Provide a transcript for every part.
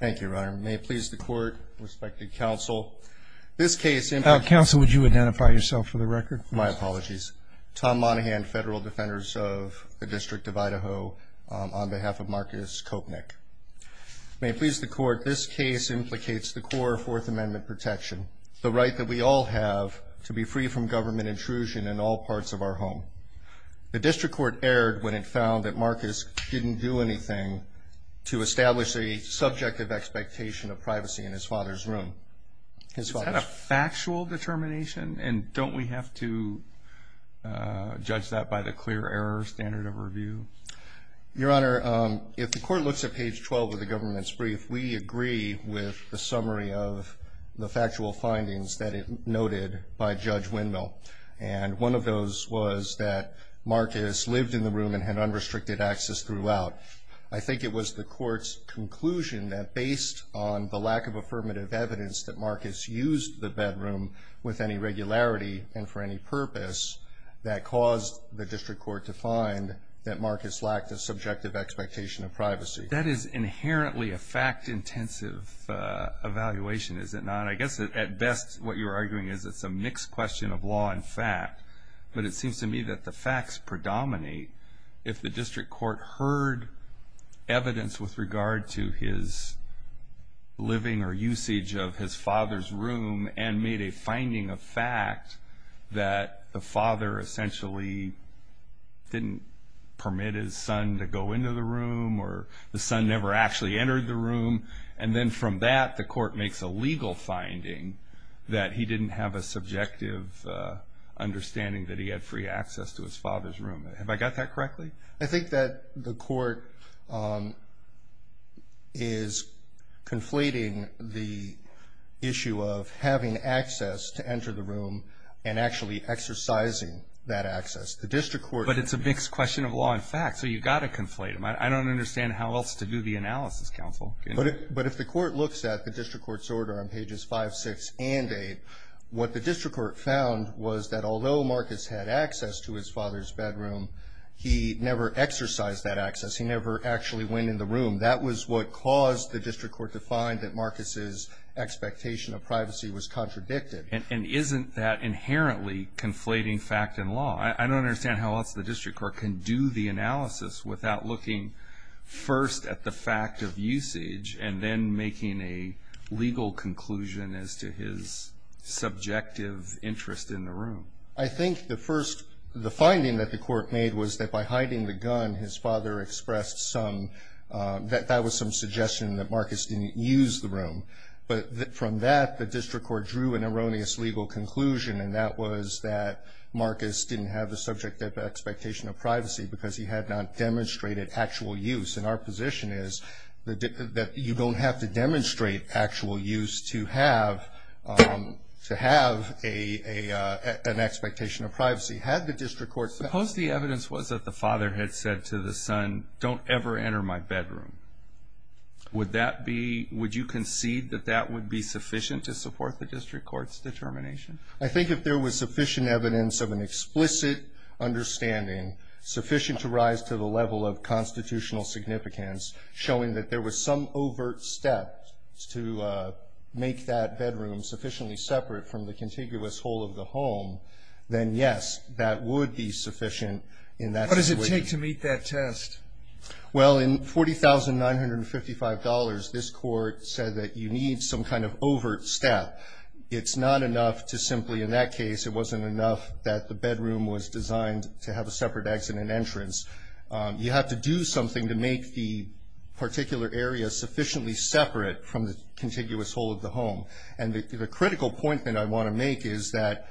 Thank you, Your Honor. May it please the Court, respected Counsel, this case implicates... Counsel, would you identify yourself for the record? My apologies. Tom Monaghan, Federal Defenders of the District of Idaho, on behalf of Marcus Koepinick. May it please the Court, this case implicates the core of Fourth Amendment protection, the right that we all have to be free from government intrusion in all parts of our home. The District Court erred when it found that Marcus didn't do anything to establish the subjective expectation of privacy in his father's room. Is that a factual determination, and don't we have to judge that by the clear error standard of review? Your Honor, if the Court looks at page 12 of the government's brief, we agree with the summary of the factual findings that it noted by Judge Windmill. And one of those was that Marcus lived in the room and had unrestricted access throughout. I think it was the Court's conclusion that based on the lack of affirmative evidence that Marcus used the bedroom with any regularity and for any purpose, that caused the District Court to find that Marcus lacked a subjective expectation of privacy. That is inherently a fact-intensive evaluation, is it not? And I guess at best what you're arguing is it's a mixed question of law and fact, but it seems to me that the facts predominate if the District Court heard evidence with regard to his living or usage of his father's room and made a finding of fact that the father essentially didn't permit his son to go into the room or the son never actually entered the room. And then from that, the Court makes a legal finding that he didn't have a subjective understanding that he had free access to his father's room. Have I got that correctly? I think that the Court is conflating the issue of having access to enter the room and actually exercising that access. The District Court But it's a mixed question of law and fact, so you've got to conflate them. I don't understand how else to do the analysis, Counsel. But if the Court looks at the District Court's order on pages 5, 6, and 8, what the District Court found was that although Marcus had access to his father's bedroom, he never exercised that access. He never actually went in the room. That was what caused the District Court to find that Marcus's expectation of privacy was contradicted. And isn't that inherently conflating fact and law? I don't understand how else the District Court can do the analysis without looking first at the fact of usage and then making a legal conclusion as to his subjective interest in the room. I think the first finding that the Court made was that by hiding the gun, his father expressed that that was some suggestion that Marcus didn't use the room. But from that, the District Court drew an erroneous legal conclusion, and that was that Marcus didn't have a subjective expectation of privacy because he had not demonstrated actual use. And our position is that you don't have to demonstrate actual use to have an expectation of privacy. Had the District Court said that? Suppose the evidence was that the father had said to the son, don't ever enter my bedroom. Would you concede that that would be sufficient to support the District Court's determination? I think if there was sufficient evidence of an explicit understanding, sufficient to rise to the level of constitutional significance, showing that there was some overt step to make that bedroom sufficiently separate from the contiguous hole of the home, then, yes, that would be sufficient in that situation. What does it take to meet that test? Well, in $40,955, this Court said that you need some kind of overt step. It's not enough to simply, in that case, it wasn't enough that the bedroom was designed to have a separate exit and entrance. You have to do something to make the particular area sufficiently separate from the contiguous hole of the home. And the critical point that I want to make is that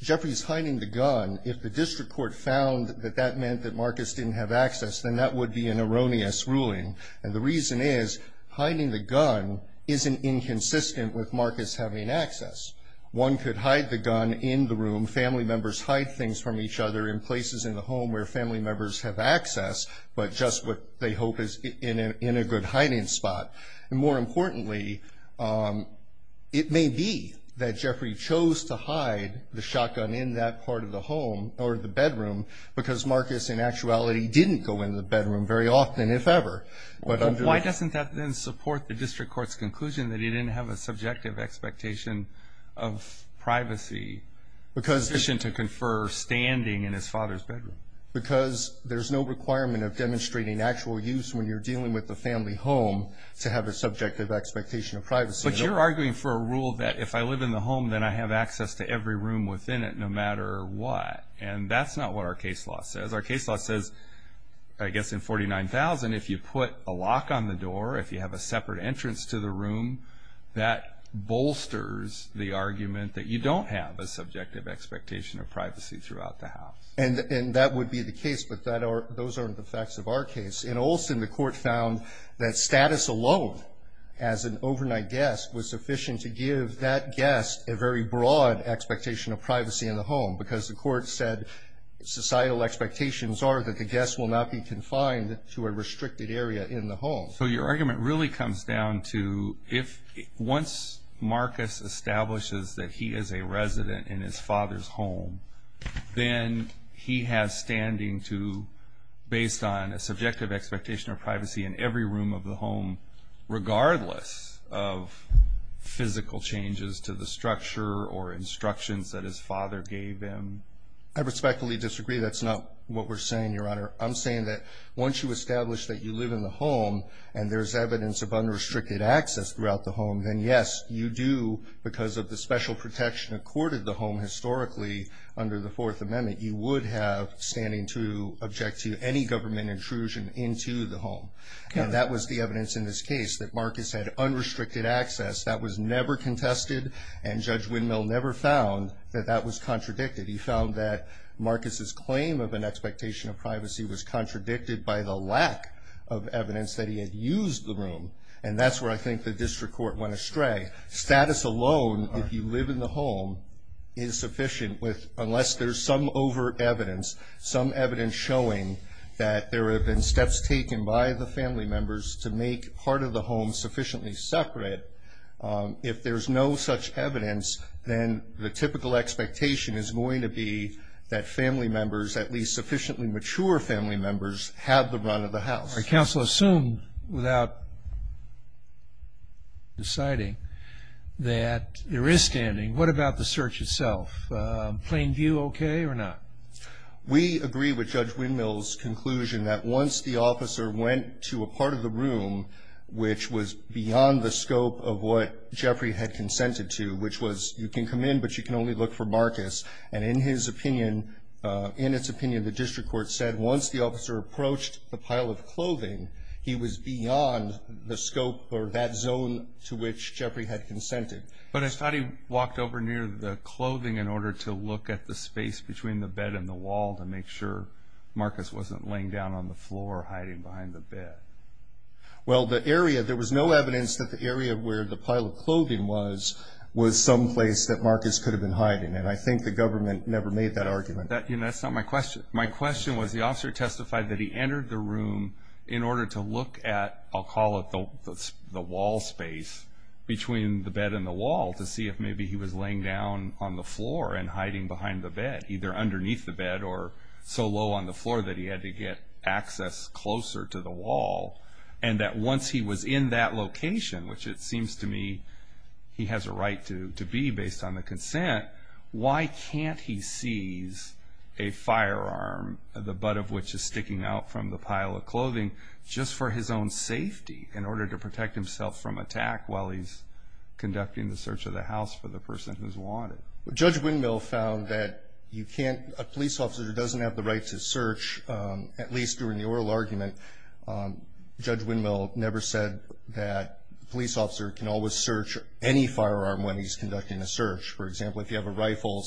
Jeffrey's hiding the gun, if the District Court found that that meant that Marcus didn't have access, then that would be an erroneous ruling. And the reason is hiding the gun isn't inconsistent with Marcus having access. One could hide the gun in the room. Family members hide things from each other in places in the home where family members have access, but just what they hope is in a good hiding spot. And more importantly, it may be that Jeffrey chose to hide the shotgun in that part of the home, or the bedroom, because Marcus in actuality didn't go in the bedroom very often, if ever. Why doesn't that then support the District Court's conclusion that he didn't have a subjective expectation of privacy, sufficient to confer standing in his father's bedroom? Because there's no requirement of demonstrating actual use when you're dealing with a family home to have a subjective expectation of privacy. But you're arguing for a rule that if I live in the home, then I have access to every room within it, no matter what. And that's not what our case law says. Our case law says, I guess, in 49,000, if you put a lock on the door, if you have a separate entrance to the room, that bolsters the argument that you don't have a subjective expectation of privacy throughout the house. And that would be the case, but those aren't the facts of our case. In Olson, the Court found that status alone, as an overnight guest, was sufficient to give that guest a very broad expectation of privacy in the home, because the Court said societal expectations are that the guest will not be confined to a restricted area in the home. So your argument really comes down to, once Marcus establishes that he is a resident in his father's home, then he has standing to, based on a subjective expectation of privacy in every room of the home, regardless of physical changes to the structure or instructions that his father gave him? I respectfully disagree. That's not what we're saying, Your Honor. I'm saying that once you establish that you live in the home and there's evidence of unrestricted access throughout the home, then yes, you do, because of the special protection accorded the home historically under the Fourth Amendment, you would have standing to object to any government intrusion into the home. And that was the evidence in this case, that Marcus had unrestricted access. That was never contested, and Judge Windmill never found that that was contradicted. He found that Marcus's claim of an expectation of privacy was contradicted by the lack of evidence that he had used the room. And that's where I think the District Court went astray. Status alone, if you live in the home, is sufficient unless there's some over-evidence, some evidence showing that there have been steps taken by the family members to make part of the home sufficiently separate. If there's no such evidence, then the typical expectation is going to be that family members, at least sufficiently mature family members, have the run of the house. I counsel assume, without deciding, that there is standing. What about the search itself? Plain view okay or not? We agree with Judge Windmill's conclusion that once the officer went to a part of the room, which was beyond the scope of what Jeffrey had consented to, which was you can come in, but you can only look for Marcus, and in his opinion, in its opinion, the District Court said once the officer approached the pile of clothing, he was beyond the scope or that zone to which Jeffrey had consented. But I thought he walked over near the clothing in order to look at the space between the bed and the wall to make sure Marcus wasn't laying down on the floor hiding behind the bed. Well, the area, there was no evidence that the area where the pile of clothing was, was someplace that Marcus could have been hiding, and I think the government never made that argument. That's not my question. My question was the officer testified that he entered the room in order to look at, I'll call it the wall space, between the bed and the wall to see if maybe he was laying down on the floor and hiding behind the bed, either underneath the bed or so low on the floor that he had to get access closer to the wall, and that once he was in that location, which it seems to me he has a right to be based on the consent, why can't he seize a firearm, the butt of which is sticking out from the pile of clothing, just for his own safety in order to protect himself from attack while he's conducting the search of the house for the person who's wanted? Judge Windmill found that you can't, a police officer doesn't have the right to search, at least during the oral argument. Judge Windmill never said that a police officer can always search any firearm when he's conducting a search. For example, if you have a rifle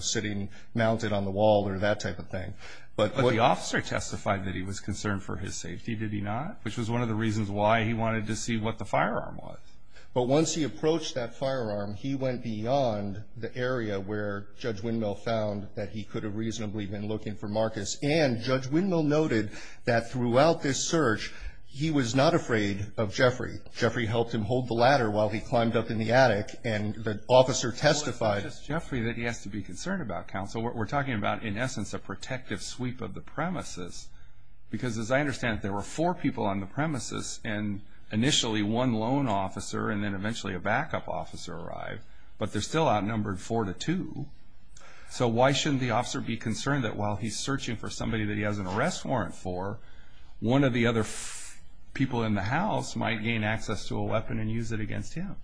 sitting mounted on the wall or that type of thing. But the officer testified that he was concerned for his safety, did he not? Which was one of the reasons why he wanted to see what the firearm was. But once he approached that firearm, he went beyond the area where Judge Windmill found that he could have reasonably been looking for Marcus. And Judge Windmill noted that throughout this search, he was not afraid of Jeffrey. Well, it's not just Jeffrey that he has to be concerned about, counsel. We're talking about, in essence, a protective sweep of the premises. Because as I understand it, there were four people on the premises, and initially one lone officer and then eventually a backup officer arrived. But they're still outnumbered four to two. So why shouldn't the officer be concerned that while he's searching for somebody that he has an arrest warrant for, one of the other people in the house might gain access to a weapon and use it against him?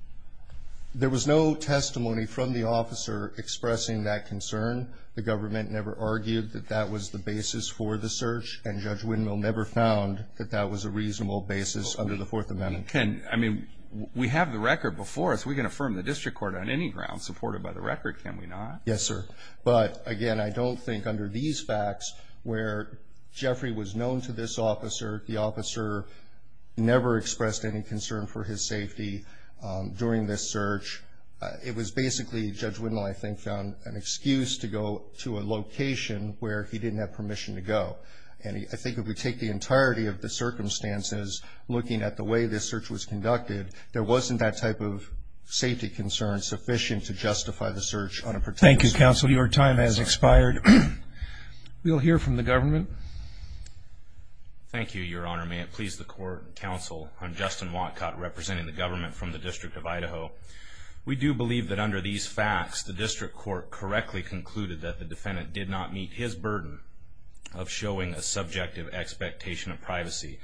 There was no testimony from the officer expressing that concern. The government never argued that that was the basis for the search. And Judge Windmill never found that that was a reasonable basis under the Fourth Amendment. I mean, we have the record before us. We can affirm the district court on any ground supported by the record, can we not? Yes, sir. But, again, I don't think under these facts where Jeffrey was known to this officer, the officer never expressed any concern for his safety during this search. It was basically Judge Windmill, I think, found an excuse to go to a location where he didn't have permission to go. And I think if we take the entirety of the circumstances, looking at the way this search was conducted, there wasn't that type of safety concern sufficient to justify the search on a protective sweep. Thank you, Counsel. Your time has expired. We'll hear from the government. Thank you, Your Honor. May it please the Court and Counsel, I'm Justin Watcott, representing the government from the District of Idaho. We do believe that under these facts, the district court correctly concluded that the defendant did not meet his burden of showing a subjective expectation of privacy.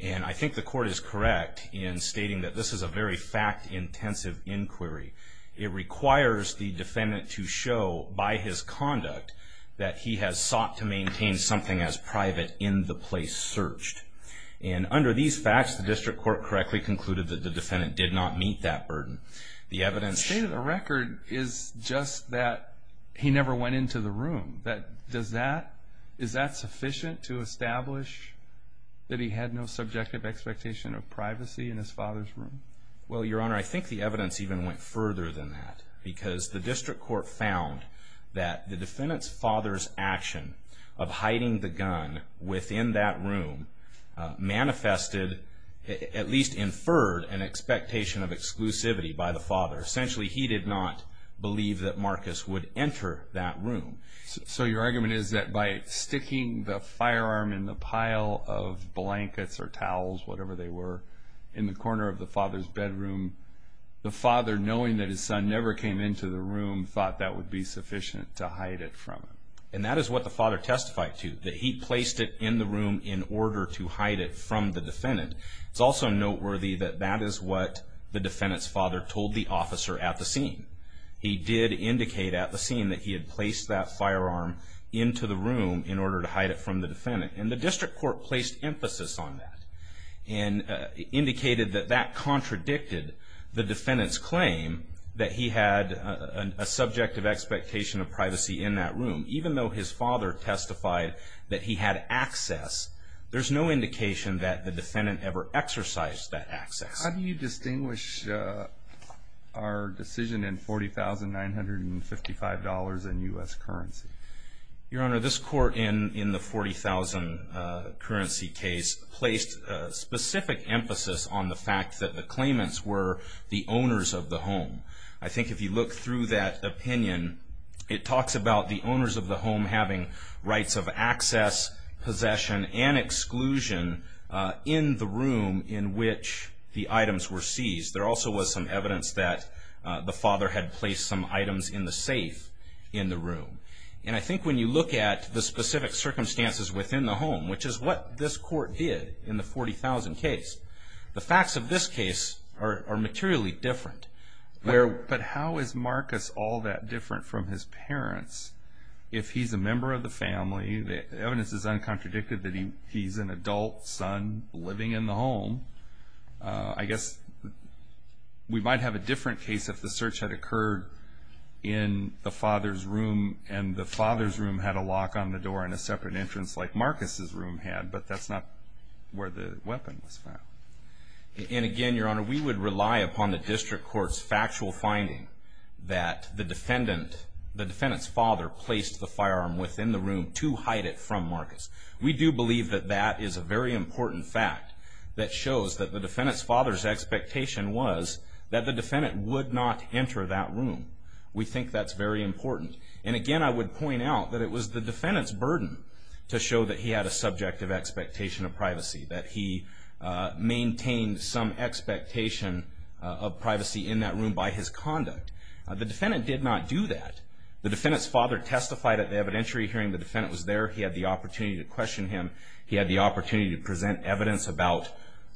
And I think the court is correct in stating that this is a very fact-intensive inquiry. It requires the defendant to show by his conduct that he has sought to maintain something as private in the place searched. And under these facts, the district court correctly concluded that the defendant did not meet that burden. The evidence... The state of the record is just that he never went into the room. Does that, is that sufficient to establish that he had no subjective expectation of privacy in his father's room? Well, Your Honor, I think the evidence even went further than that because the district court found that the defendant's father's action of hiding the gun within that room manifested, at least inferred an expectation of exclusivity by the father. Essentially, he did not believe that Marcus would enter that room. So your argument is that by sticking the firearm in the pile of blankets or towels, whatever they were, in the corner of the father's bedroom, the father, knowing that his son never came into the room, thought that would be sufficient to hide it from him. And that is what the father testified to, that he placed it in the room in order to hide it from the defendant. It's also noteworthy that that is what the defendant's father told the officer at the scene. He did indicate at the scene that he had placed that firearm into the room in order to hide it from the defendant. And the district court placed emphasis on that and indicated that that contradicted the defendant's claim that he had a subjective expectation of privacy in that room. Even though his father testified that he had access, there's no indication that the defendant ever exercised that access. How do you distinguish our decision in $40,955 in U.S. currency? Your Honor, this court in the $40,000 currency case placed specific emphasis on the fact that the claimants were the owners of the home. I think if you look through that opinion, it talks about the owners of the home having rights of access, possession, and exclusion in the room in which the items were seized. There also was some evidence that the father had placed some items in the safe in the room. And I think when you look at the specific circumstances within the home, which is what this court did in the $40,000 case, the facts of this case are materially different. But how is Marcus all that different from his parents? If he's a member of the family, the evidence is uncontradicted that he's an adult son living in the home. I guess we might have a different case if the search had occurred in the father's room and the father's room had a lock on the door and a separate entrance like Marcus's room had, but that's not where the weapon was found. And again, Your Honor, we would rely upon the district court's factual finding that the defendant's father placed the firearm within the room to hide it from Marcus. We do believe that that is a very important fact that shows that the defendant's father's expectation was that the defendant would not enter that room. We think that's very important. And again, I would point out that it was the defendant's burden to show that he had a subjective expectation of privacy, that he maintained some expectation of privacy in that room by his conduct. The defendant did not do that. The defendant's father testified at the evidentiary hearing. The defendant was there. He had the opportunity to question him. He had the opportunity to present evidence about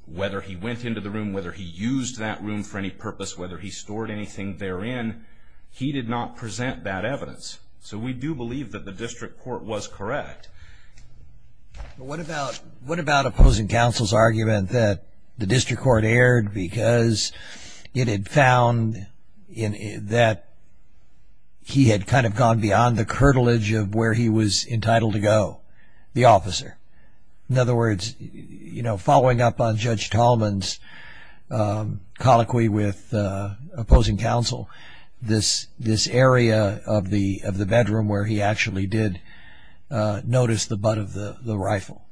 whether he went into the room, whether he used that room for any purpose, whether he stored anything therein. He did not present that evidence. So we do believe that the district court was correct. What about opposing counsel's argument that the district court erred because it had found that he had kind of gone beyond the curtilage of where he was entitled to go, the officer? In other words, following up on Judge Tallman's colloquy with opposing counsel, this area of the bedroom where he actually did notice the butt of the rifle.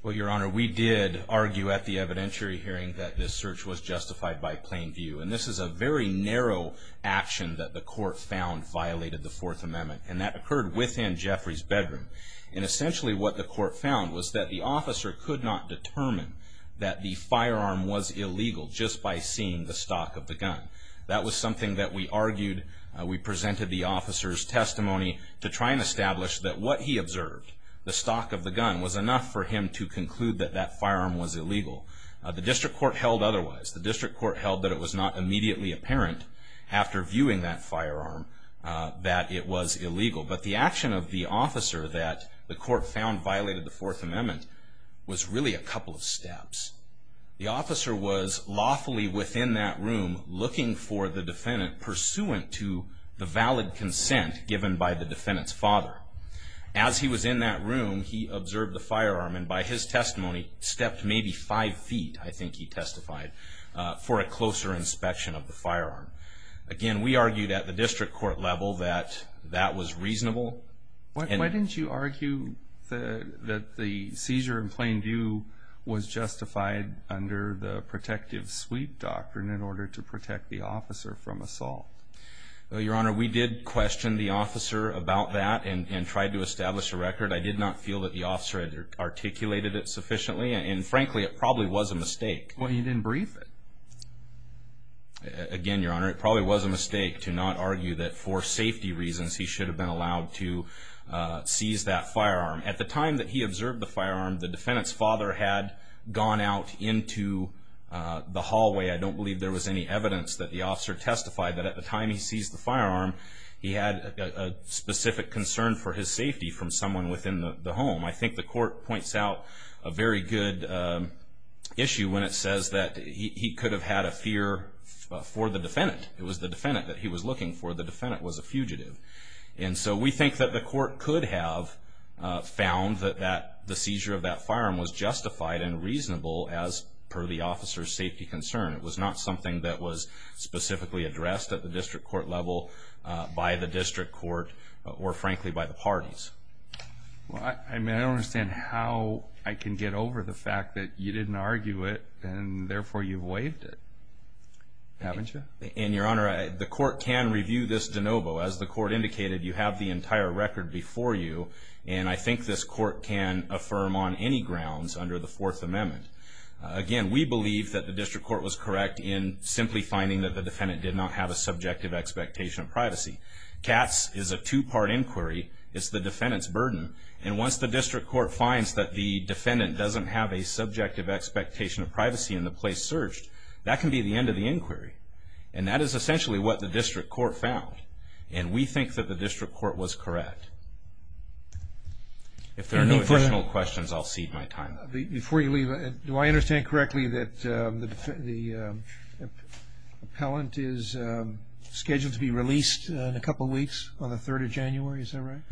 Well, Your Honor, we did argue at the evidentiary hearing that this search was justified by plain view. And this is a very narrow action that the court found violated the Fourth Amendment, and that occurred within Jeffrey's bedroom. And essentially what the court found was that the officer could not determine that the firearm was illegal just by seeing the stock of the gun. That was something that we argued. We presented the officer's testimony to try and establish that what he observed, the stock of the gun, was enough for him to conclude that that firearm was illegal. The district court held otherwise. The district court held that it was not immediately apparent after viewing that firearm that it was illegal. But the action of the officer that the court found violated the Fourth Amendment was really a couple of steps. The officer was lawfully within that room looking for the defendant pursuant to the valid consent given by the defendant's father. As he was in that room, he observed the firearm, and by his testimony, stepped maybe five feet, I think he testified, for a closer inspection of the firearm. Again, we argued at the district court level that that was reasonable. Why didn't you argue that the seizure in plain view was justified under the protective sweep doctrine in order to protect the officer from assault? Your Honor, we did question the officer about that and tried to establish a record. I did not feel that the officer had articulated it sufficiently, and frankly, it probably was a mistake. Well, you didn't brief it. Again, Your Honor, it probably was a mistake to not argue that for safety reasons he should have been allowed to seize that firearm. At the time that he observed the firearm, the defendant's father had gone out into the hallway. I don't believe there was any evidence that the officer testified that at the time he seized the firearm, he had a specific concern for his safety from someone within the home. I think the court points out a very good issue when it says that he could have had a fear for the defendant. It was the defendant that he was looking for. The defendant was a fugitive. And so we think that the court could have found that the seizure of that firearm was justified and reasonable as per the officer's safety concern. It was not something that was specifically addressed at the district court level by the district court or, frankly, by the parties. I mean, I don't understand how I can get over the fact that you didn't argue it and therefore you waived it, haven't you? And, Your Honor, the court can review this de novo. As the court indicated, you have the entire record before you, and I think this court can affirm on any grounds under the Fourth Amendment. Again, we believe that the district court was correct in simply finding that the defendant did not have a subjective expectation of privacy. Katz is a two-part inquiry. It's the defendant's burden. And once the district court finds that the defendant doesn't have a subjective expectation of privacy in the place searched, that can be the end of the inquiry. And that is essentially what the district court found. And we think that the district court was correct. If there are no additional questions, I'll cede my time. Before you leave, do I understand correctly that the appellant is scheduled to be released in a couple of weeks, on the 3rd of January, is that right?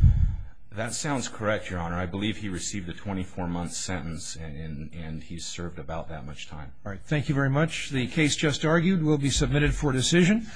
That sounds correct, Your Honor. I believe he received a 24-month sentence and he's served about that much time. All right, thank you very much. The case just argued will be submitted for decision.